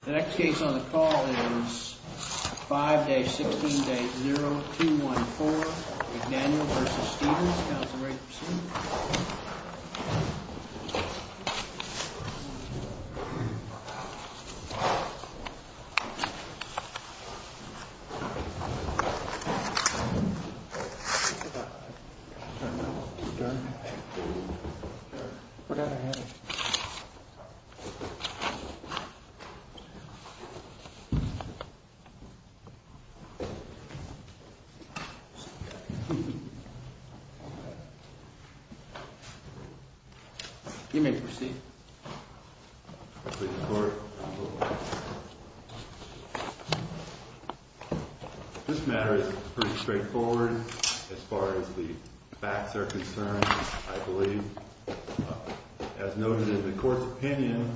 The next case on the call is 5-16-0214, McDaniel v. Stevens. Counselor, are you ready to proceed? You may proceed. This matter is pretty straightforward as far as the facts are concerned, I believe. As noted in the court's opinion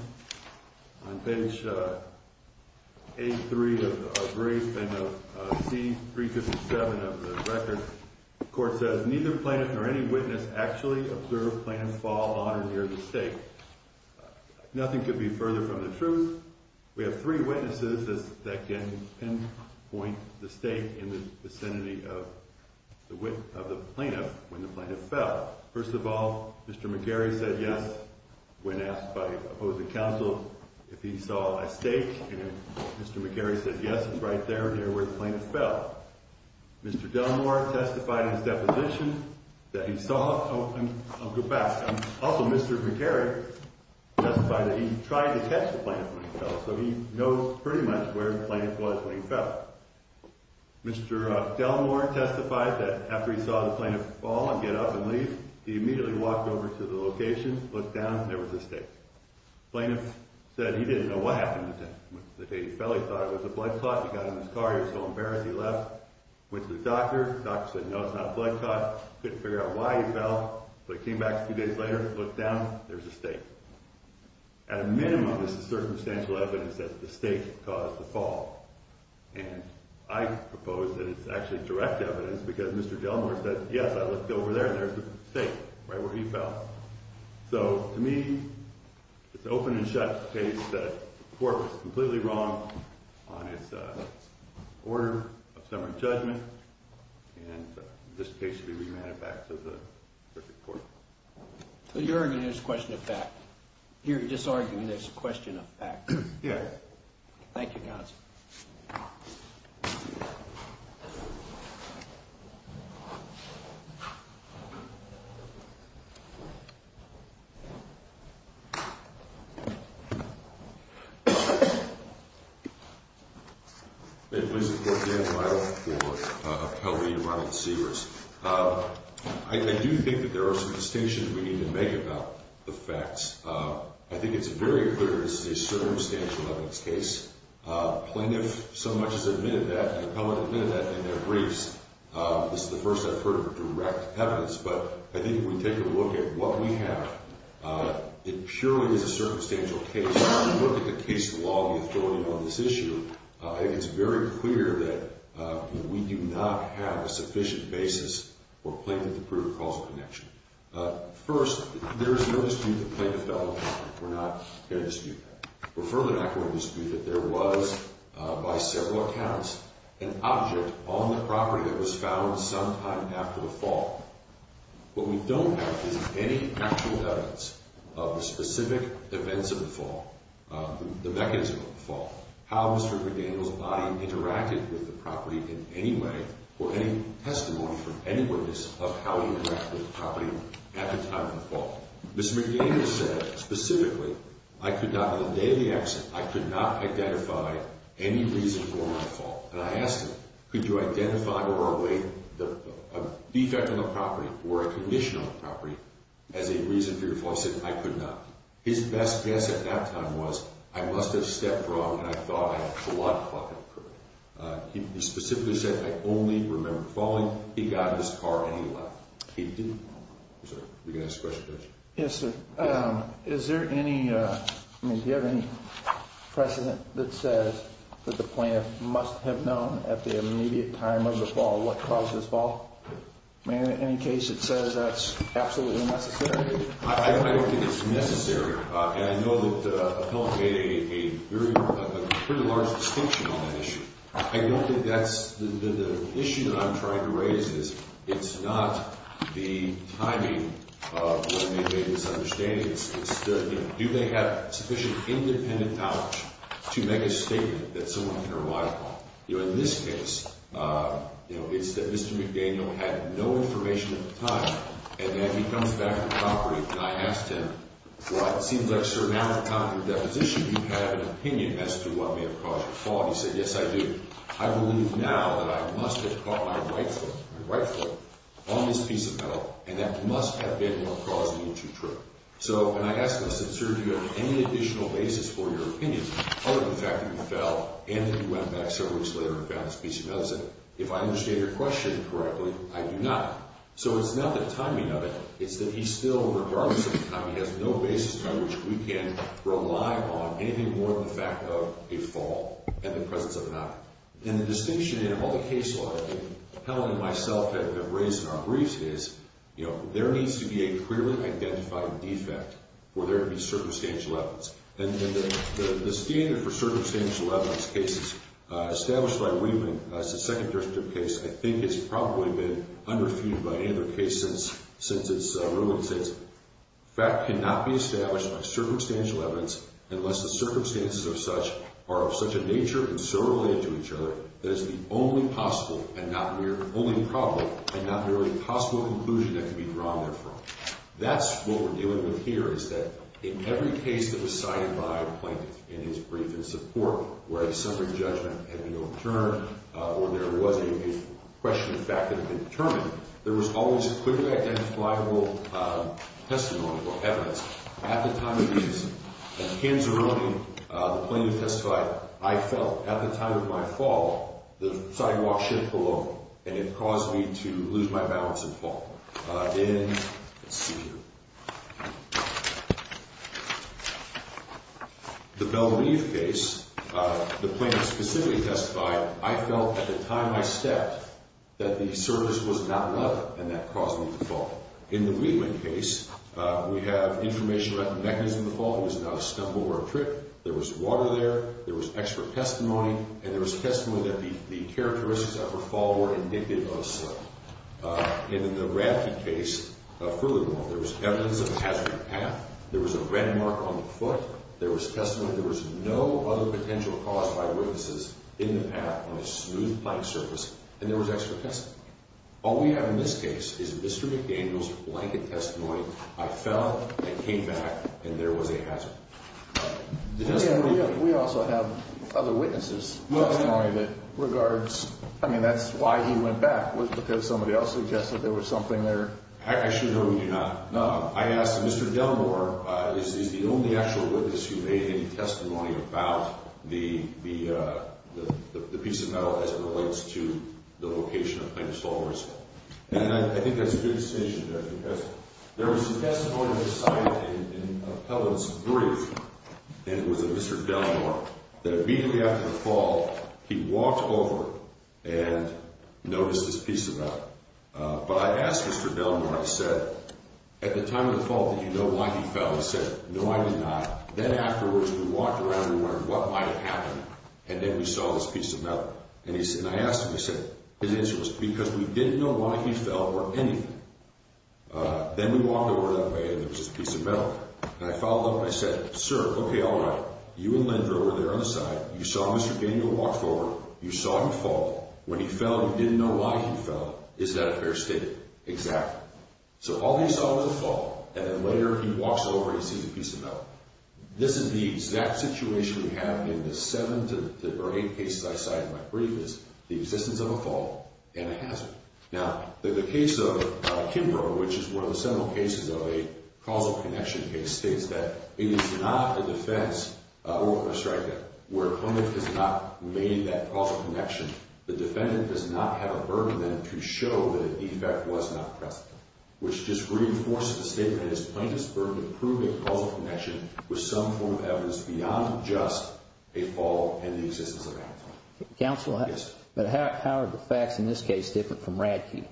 on page 83 of the brief and of C-357 of the record, the court says neither plaintiff nor any witness actually observed plaintiff's fall on or near the stake. Nothing could be further from the truth. We have three witnesses that can pinpoint the stake in the vicinity of the plaintiff when the plaintiff fell. First of all, Mr. McGarry said yes when asked by opposing counsel if he saw a stake, and Mr. McGarry said yes, it's right there near where the plaintiff fell. Mr. Delmore testified in his deposition that he saw... I'll go back. Also, Mr. McGarry testified that he tried to catch the plaintiff when he fell, so he knows pretty much where the plaintiff was when he fell. Mr. Delmore testified that after he saw the plaintiff fall and get up and leave, he immediately walked over to the location, looked down, and there was a stake. The plaintiff said he didn't know what happened to him. When the plaintiff fell, he thought it was a blood clot. He got in his car. He was so embarrassed, he left, went to the doctor. The doctor said, no, it's not a blood clot. He couldn't figure out why he fell, but he came back a few days later, looked down, there's a stake. At a minimum, this is circumstantial evidence that the stake caused the fall, and I propose that it's actually direct evidence because Mr. Delmore said, yes, I looked over there, and there's a stake right where he fell. So to me, it's open and shut case that the court was completely wrong on its order of summary judgment, and this case should be remanded back to the circuit court. So you're arguing there's a question of fact. You're disarguing there's a question of fact. Yes. Thank you, counsel. May it please the court. Dan Lyle for Appellee Ronald Sears. I do think that there are some distinctions we need to make about the facts. I think it's very clear this is a circumstantial evidence case. Plaintiff so much has admitted that, and the appellate admitted that in their briefs. This is the first I've heard of direct evidence, It purely is a circumstantial case. When you look at the case law, the authority on this issue, it's very clear that we do not have a sufficient basis for plaintiff to prove causal connection. First, there is no dispute that the plaintiff fell on the property. We're not going to dispute that. We're further not going to dispute that there was, by several accounts, an object on the property that was found sometime after the fall. What we don't have is any actual evidence of the specific events of the fall, the mechanism of the fall, how Mr. McDaniel's body interacted with the property in any way, or any testimony from any witness of how he interacted with the property at the time of the fall. Mr. McDaniel said specifically, I could not, on the day of the accident, I could not identify any reason for my fall. And I asked him, could you identify a defect on the property or a condition on the property as a reason for your fall? He said, I could not. His best guess at that time was, I must have stepped wrong and I thought I had a blood clot that occurred. He specifically said, I only remember falling. He got in his car and he left. He didn't. Sir, you going to ask a question? Yes, sir. Is there any precedent that says that the plaintiff must have known at the immediate time of the fall what caused his fall? In any case, it says that's absolutely necessary. I don't think it's necessary. And I know that Appellant made a pretty large distinction on that issue. I don't think that's the issue that I'm trying to raise is it's not the timing of what may make this understanding. It's the, you know, do they have sufficient independent knowledge to make a statement that someone can rely upon? You know, in this case, you know, it's that Mr. McDaniel had no information at the time. And then he comes back to the property. And I asked him, well, it seems like, sir, now at the time of the deposition, you have an opinion as to what may have caused the fall. He said, yes, I do. I believe now that I must have caught my right foot on this piece of metal, and that must have been what caused me to trip. So, and I asked him, sir, do you have any additional basis for your opinion other than the fact that you fell and that you went back several weeks later and found this piece of metal? He said, if I understand your question correctly, I do not. So it's not the timing of it. It's that he still, regardless of the timing, has no basis by which we can rely on anything more than the fact of a fall and the presence of an eye. And the distinction in all the cases that Helen and myself have raised in our briefs is, you know, there needs to be a clearly identified defect for there to be circumstantial evidence. And the standard for circumstantial evidence cases established by Wieman as a Second District case, I think, has probably been underfeuded by any other case since its ruling states, fact cannot be established by circumstantial evidence unless the circumstances of such are of such a nature and so related to each other that it is the only possible and not merely possible conclusion that can be drawn therefrom. That's what we're dealing with here, is that in every case that was cited by a plaintiff in his brief in support, where a suffering judgment had been overturned or there was a question of fact that had been determined, there was always a clearly identifiable testimony or evidence. At the time of these, at the hands of ruling, the plaintiff testified, I fell. At the time of my fall, the sidewalk shifted below me, and it caused me to lose my balance and fall. In the Belle Reve case, the plaintiff specifically testified, I felt at the time I stepped that the surface was not level, and that caused me to fall. In the Wieman case, we have information about the mechanism of the fall. It was not a stumble or a trip. There was water there. There was extra testimony, and there was testimony that the characteristics of her fall were indicative of slip. In the Ramke case furthermore, there was evidence of a hazard path. There was a red mark on the foot. There was testimony. There was no other potential cause by witnesses in the path on a smooth, plain surface, and there was extra testimony. All we have in this case is Mr. McDaniel's blanket testimony, I fell, I came back, and there was a hazard. We also have other witnesses' testimony that regards, I mean, that's why he went back, was because somebody else suggested there was something there. Actually, no, we do not. No. I asked Mr. Delmore, is he the only actual witness who made any testimony about the piece of metal as it relates to the location of plaintiff's fall or his fall? And I think that's a good distinction there because there was some testimony that was cited in Appellant's brief, and it was of Mr. Delmore, that immediately after the fall, he walked over and noticed this piece of metal. But I asked Mr. Delmore, I said, at the time of the fall, did you know why he fell? He said, no, I did not. Then afterwards, we walked around and we wondered what might have happened, and then we saw this piece of metal. And I asked him, I said, because we didn't know why he fell or anything. Then we walked over that way and there was this piece of metal. And I followed up and I said, sir, okay, all right, you and Linda were there on the side. You saw Mr. Daniel walk forward. You saw him fall. When he fell, you didn't know why he fell. Is that a fair statement? Exactly. So all he saw was a fall, and then later he walks over and he sees a piece of metal. This is the exact situation we have in the seven to eight cases I cited in my brief, is the existence of a fall and a hazard. Now, the case of Kimbrough, which is one of the several cases of a causal connection case, states that it is not a defense or a strike where a defendant has not made that causal connection. The defendant does not have a burden then to show that a defect was not present, which just reinforces the statement that his plaintiff's burden to prove a causal connection was some form of evidence beyond just a fall and the existence of a hazard. Counsel, how are the facts in this case different from Radke?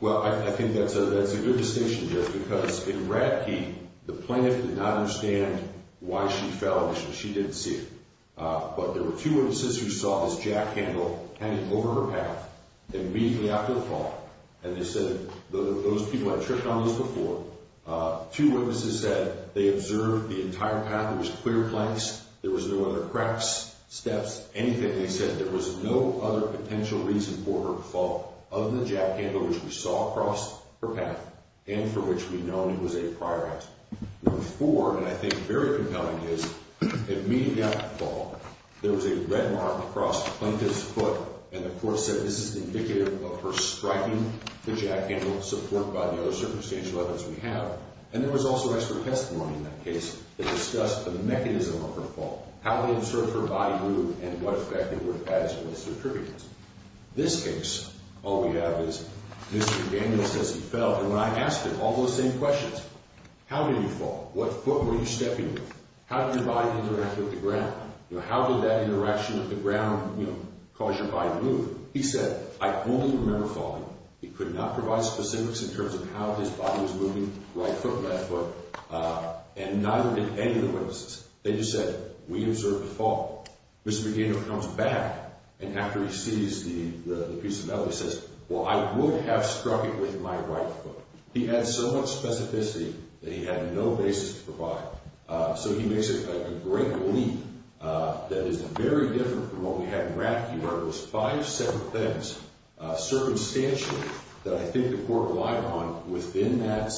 Well, I think that's a good distinction, Jerry, because in Radke, the plaintiff did not understand why she fell and she didn't see it. But there were two women's sisters who saw this jack handle hanging over her path immediately after the fall, and they said those people had tripped on those before. Two witnesses said they observed the entire path. There was clear planks. There was no other cracks, steps, anything. They said there was no other potential reason for her to fall other than the jack handle, which we saw across her path and for which we'd known it was a prior act. Number four, and I think very compelling, is immediately after the fall, there was a red mark across the plaintiff's foot, and the court said this is indicative of her striking the jack handle, supported by the other circumstantial evidence we have. And there was also extra testimony in that case that discussed the mechanism of her fall, how they observed her body move, and what effect it would have had as a witness or tributant. This case, all we have is Mr. Daniels says he fell, and when I asked him all those same questions. How did you fall? What foot were you stepping with? How did your body interact with the ground? You know, how did that interaction with the ground, you know, cause your body to move? He said, I only remember falling. He could not provide specifics in terms of how his body was moving, right foot, left foot, and neither did any of the witnesses. They just said, we observed the fall. Mr. Magino comes back, and after he sees the piece of metal, he says, well, I would have struck it with my right foot. He had so much specificity that he had no basis to provide. So he makes a great leap that is very different from what we had in Rappaport. It was five separate things, circumstantial, that I think the court relied on within that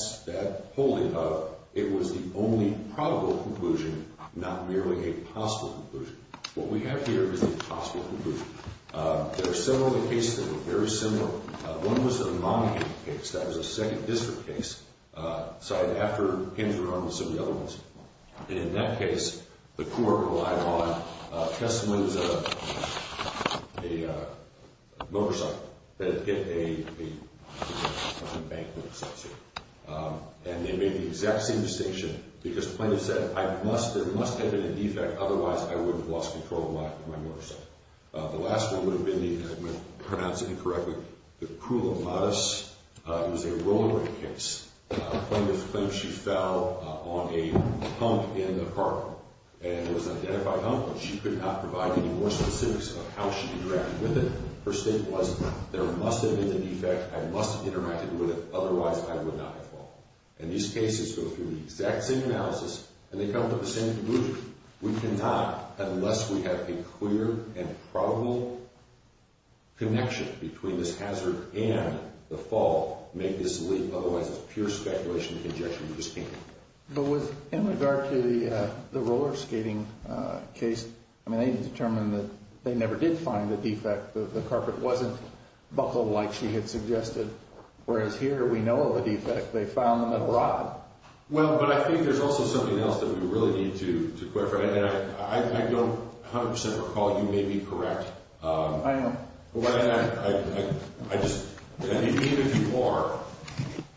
holding of it was the only probable conclusion, not merely a possible conclusion. What we have here is a possible conclusion. There are several other cases that are very similar. One was a monarchy case. That was a second district case. So I had to after hands were on with some of the other ones. And in that case, the court relied on Kesselman's motorcycle that had hit a bank, and they made the exact same distinction because the plaintiff said, there must have been a defect, otherwise I would have lost control of my motorcycle. The last one would have been, and I'm going to pronounce it incorrectly, the cruel and modest. It was a roller rink case. Plaintiff claims she fell on a hump in the car, and it was an identified hump, and she could not provide any more specifics of how she interacted with it. Her statement was, there must have been a defect, I must have interacted with it, otherwise I would not have fallen. And these cases go through the exact same analysis, and they come to the same conclusion. We cannot, unless we have a clear and probable connection between this hazard and the fall, make this leak, otherwise it's pure speculation and conjecture. But in regard to the roller skating case, I mean, they determined that they never did find the defect. The carpet wasn't buckled like she had suggested. Whereas here, we know of a defect. They found them abroad. Well, but I think there's also something else that we really need to clarify, and I don't 100% recall you may be correct. I know. But I just, and even if you are,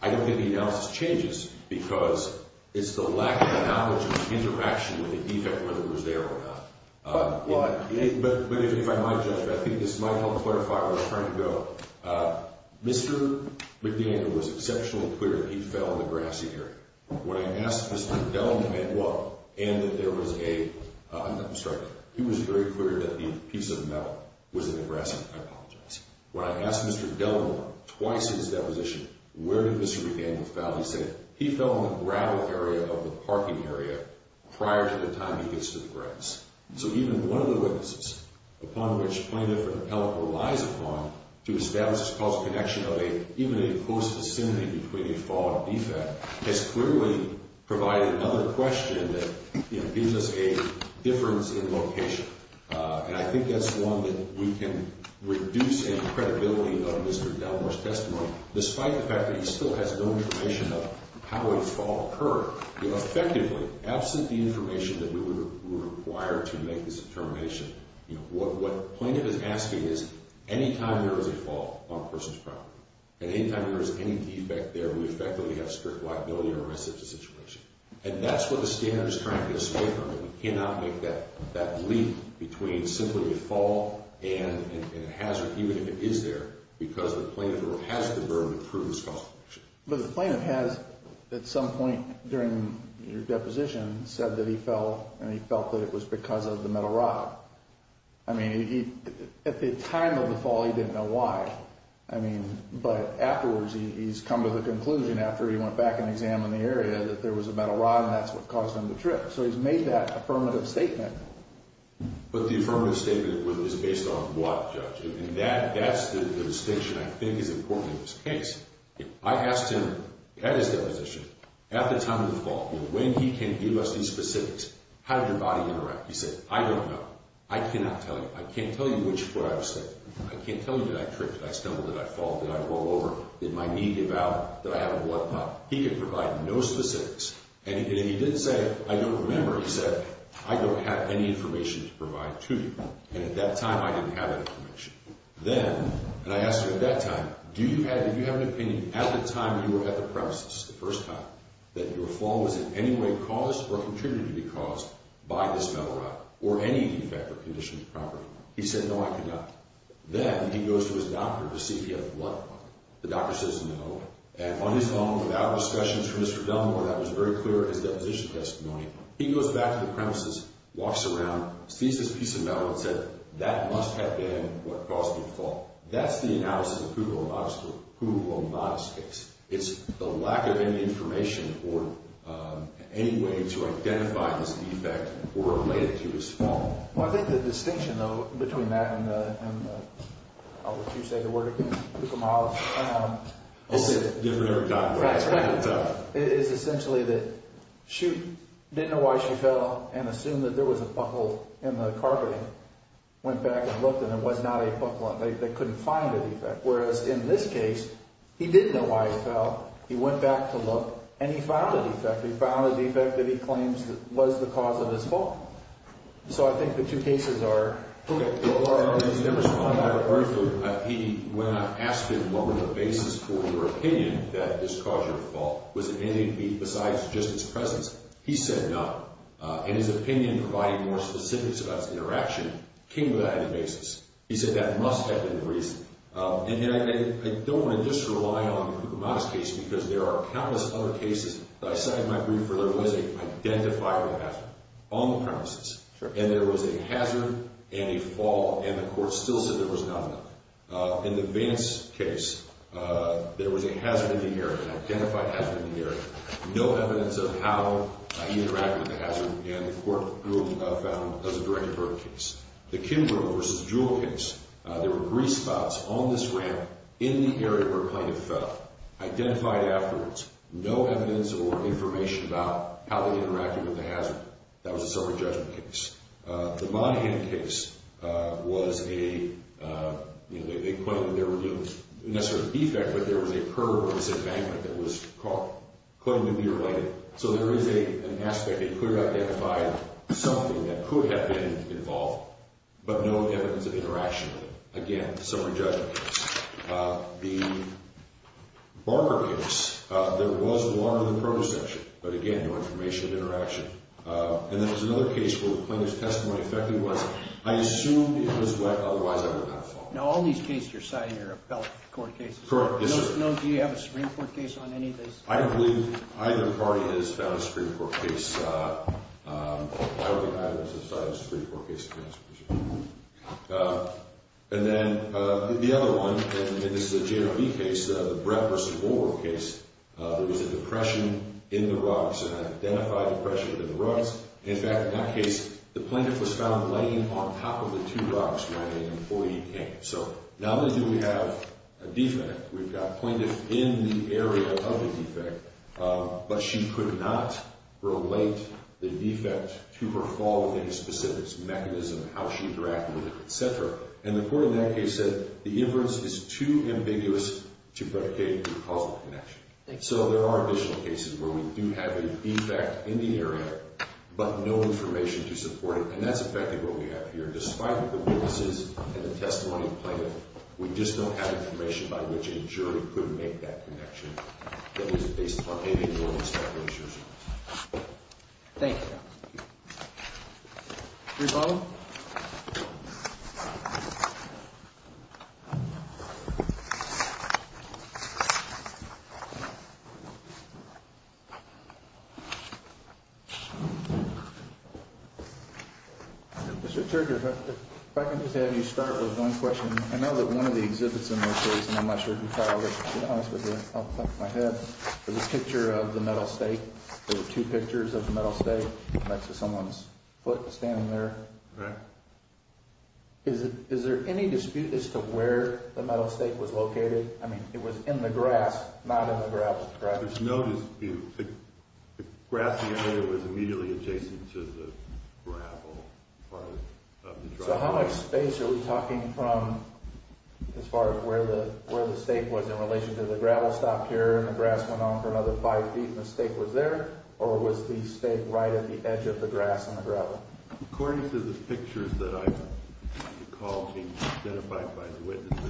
I don't think the analysis changes, because it's the lack of knowledge of the interaction with the defect, whether it was there or not. But if I might, Judge, I think this might help clarify where I'm trying to go. Mr. McDaniel was exceptionally clear that he fell in the grassy area. When I asked Mr. Delamore, and that there was a, I'm sorry, he was very clear that the piece of metal was in the grass. I apologize. When I asked Mr. Delamore twice his deposition, where did Mr. McDaniel fall, he said he fell in the gravel area of the parking area prior to the time he gets to the grass. So even one of the witnesses, upon which plaintiff or appellate relies upon, to establish this causal connection of even a close vicinity between a fall and a defect, has clearly provided another question that gives us a difference in location. And I think that's one that we can reduce in credibility of Mr. Delamore's testimony, despite the fact that he still has no information of how a fall occurred. Effectively, absent the information that we would require to make this determination, what plaintiff is asking is, any time there is a fall on a person's property, and any time there is any defect there, we effectively have strict liability or arrest of the situation. And that's what the standard is trying to get us away from. We cannot make that leap between simply a fall and a hazard, even if it is there, because the plaintiff has the ability to prove this causal connection. But the plaintiff has, at some point during your deposition, said that he fell and he felt that it was because of the metal rod. I mean, at the time of the fall, he didn't know why. I mean, but afterwards, he's come to the conclusion, after he went back and examined the area, that there was a metal rod, and that's what caused him to trip. So he's made that affirmative statement. But the affirmative statement is based on what, Judge? And that's the distinction I think is important in this case. I asked him, at his deposition, at the time of the fall, when he can give us these specifics, how did your body interact? He said, I don't know. I cannot tell you. I can't tell you which foot I was sitting on. I can't tell you did I trip, did I stumble, did I fall, did I roll over, did my knee give out, did I have a blood clot? He could provide no specifics. And he didn't say, I don't remember. He said, I don't have any information to provide to you. And at that time, I didn't have that information. Then, and I asked him at that time, do you have an opinion, at the time you were at the premises the first time, that your fall was in any way caused or contributed to be caused by this metal rod or any defect or condition of the property? He said, no, I could not. Then he goes to his doctor to see if he had a blood clot. The doctor says no. And on his own, without discussions from Mr. Dunmore, that was very clear in his deposition testimony, he goes back to the premises, walks around, sees this piece of metal, and said, that must have been what caused the fall. That's the analysis of Kugelhorn Bodice case. It's the lack of any information or any way to identify this defect or relate it to his fall. Well, I think the distinction, though, between that and, I'll let you say the word again, Kugelhorn Bodice, is essentially that she didn't know why she fell and assumed that there was a pothole in the carpeting. Went back and looked, and there was not a pothole. They couldn't find a defect. Whereas in this case, he did know why he fell. He went back to look, and he found a defect. He found a defect that he claims was the cause of his fall. So I think the two cases are Kugelhorn Bodice. Mr. Dunmore, I have a question. When I asked him, what were the bases for your opinion that this caused your fall, was it anything besides just his presence? He said no. In his opinion, providing more specifics about his interaction, came without any bases. He said that must have been the reason. And I don't want to just rely on the Kugelhorn Bodice case because there are countless other cases that I cited in my brief where there was an identifiable hazard on the premises, and there was a hazard and a fall, and the court still said there was not enough. In the Vance case, there was a hazard in the area, an identified hazard in the area. No evidence of how he interacted with the hazard, and the court found it was a direct-of-birth case. The Kimbrough v. Jewel case, there were three spots on this ramp in the area where plaintiff fell, identified afterwards. No evidence or information about how they interacted with the hazard. That was a sober judgment case. The Monahan case was a claim that there were no necessary defects, but there was a curb of disembankment that was claimed to be related. So there is an aspect that could have identified something that could have been involved, but no evidence of interaction with it. Again, a sober judgment case. The Barber case, there was alarm in the protosexual, but again, no information of interaction. And then there was another case where the plaintiff's testimony effectively was, I assumed it was wet, otherwise I would not have fallen. Now, all these cases you're citing are appellate court cases. Correct. Yes, sir. Do you have a Supreme Court case on any of these? I don't believe either party has found a Supreme Court case. I would have to cite a Supreme Court case to answer this question. And then the other one, and this is a JRB case, the Bradford v. Woolworth case, there was a depression in the rugs, an identified depression in the rugs. In fact, in that case, the plaintiff was found laying on top of the two rugs when an employee came. So not only do we have a defect, we've got a plaintiff in the area of the defect, but she could not relate the defect to her fall with any specifics, mechanism, how she interacted with it, et cetera. And the court in that case said the inference is too ambiguous to predicate through causal connection. So there are additional cases where we do have a defect in the area, but no information to support it, and that's effectively what we have here, is that despite the witnesses and the testimony of the plaintiff, we just don't have information by which a jury could make that connection that was based upon any of your establishments. Thank you. Rebond? Mr. Churchard, if I can just have you start with one question. I know that one of the exhibits in this case, and I'm not sure if you filed it, but to be honest with you, I'll clap my head. There's a picture of the metal stake. There were two pictures of the metal stake next to someone's foot standing there. Correct. Is there any dispute as to where the metal stake was located? I mean, it was in the grass, not in the gravel, correct? There's no dispute. The grassy area was immediately adjacent to the gravel part of the drive. So how much space are we talking from as far as where the stake was in relation to the gravel stopped here and the grass went on for another five feet and the stake was there, or was the stake right at the edge of the grass and the gravel? According to the pictures that I recall being identified by the witnesses,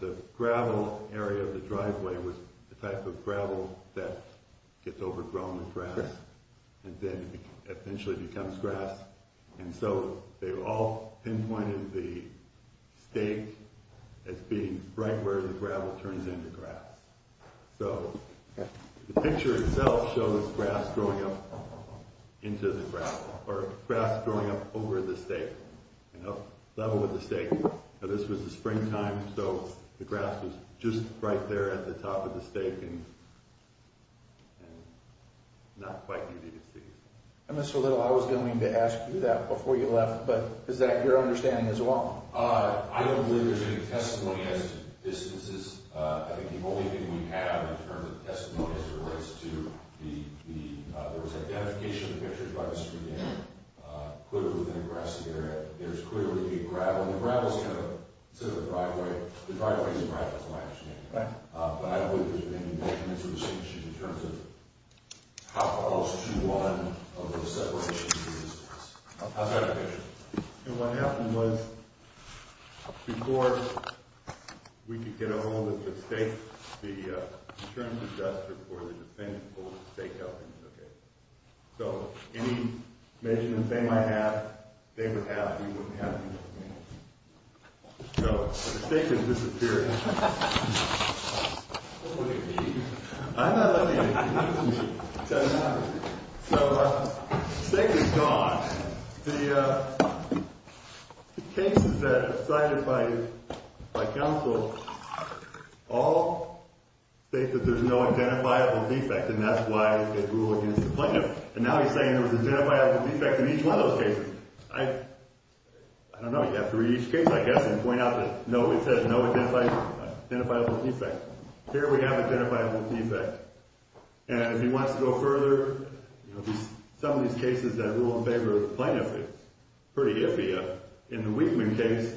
the gravel area of the driveway was the type of gravel that gets overgrown with grass and then eventually becomes grass, and so they all pinpointed the stake as being right where the gravel turns into grass. So the picture itself shows grass growing up into the gravel, or grass growing up over the stake and up level with the stake. Now this was the springtime, so the grass was just right there at the top of the stake and not quite easy to see. Mr. Little, I was going to ask you that before you left, but is that your understanding as well? I don't believe there's any testimony as to distances. I think the only thing we have in terms of testimony is in regards to the identification of the pictures by Mr. Dane. Clearly within a grassy area, there's clearly a gravel, and the gravel is kind of, instead of a driveway, the driveway is a gravel, that's what I actually mean. But I don't believe there's been any measurements or distinctions in terms of how close to one of those separations is. How's that a picture? And what happened was, before we could get a hold of the stake, the insurance adjuster for the defendant pulled the stake out and took it. So, any measurements they might have, they would have, you wouldn't have, you wouldn't have. So, the stake has disappeared. I'm not letting you use me. So, the stake is gone. The cases that were cited by counsel all state that there's no identifiable defect, and that's why it ruled against the plaintiff. And now he's saying there was an identifiable defect in each one of those cases. I don't know. You have to read each case, I guess, and point out that it says no identifiable defect. Here we have identifiable defect. And if he wants to go further, some of these cases that rule in favor of the plaintiff is pretty iffy. In the Wigman case,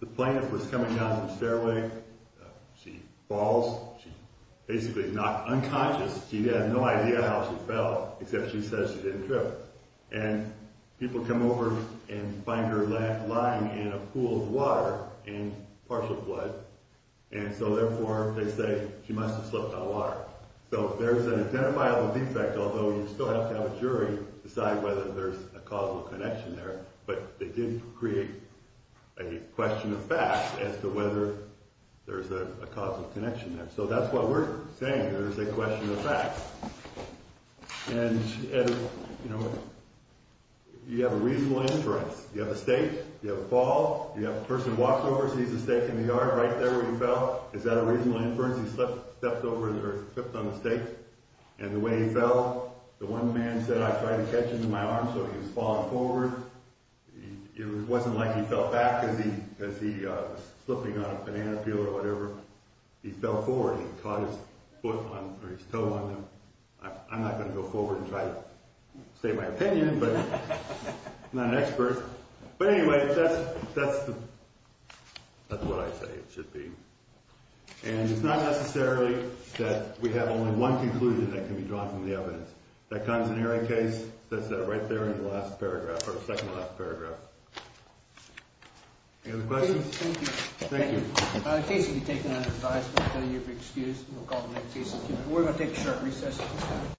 the plaintiff was coming down the stairway. She falls. She's basically knocked unconscious. She has no idea how she fell, except she says she didn't trip. And people come over and find her lying in a pool of water and partial blood. And so, therefore, they say she must have slipped out of water. So, there's an identifiable defect, although you still have to have a jury decide whether there's a causal connection there. But they did create a question of facts as to whether there's a causal connection there. So, that's why we're saying there's a question of facts. And, you know, you have a reasonable inference. You have a stake. You have a fall. You have a person who walks over, sees a stake in the yard right there where he fell. Is that a reasonable inference? He slipped on the stake. And the way he fell, the one man said, I tried to catch him in my arms so he was falling forward. It wasn't like he fell back because he was slipping on a banana peel or whatever. He fell forward. He caught his foot on – or his toe on the – I'm not going to go forward and try to state my opinion, but I'm not an expert. But anyway, that's the – that's what I say it should be. And it's not necessarily that we have only one conclusion that can be drawn from the evidence. That considering case, that's right there in the last paragraph – or second to last paragraph. Any other questions? Thank you. Thank you. In case you've taken under advisement, we'll tell you if you're excused and we'll call the next case. We're going to take a short recess at this time.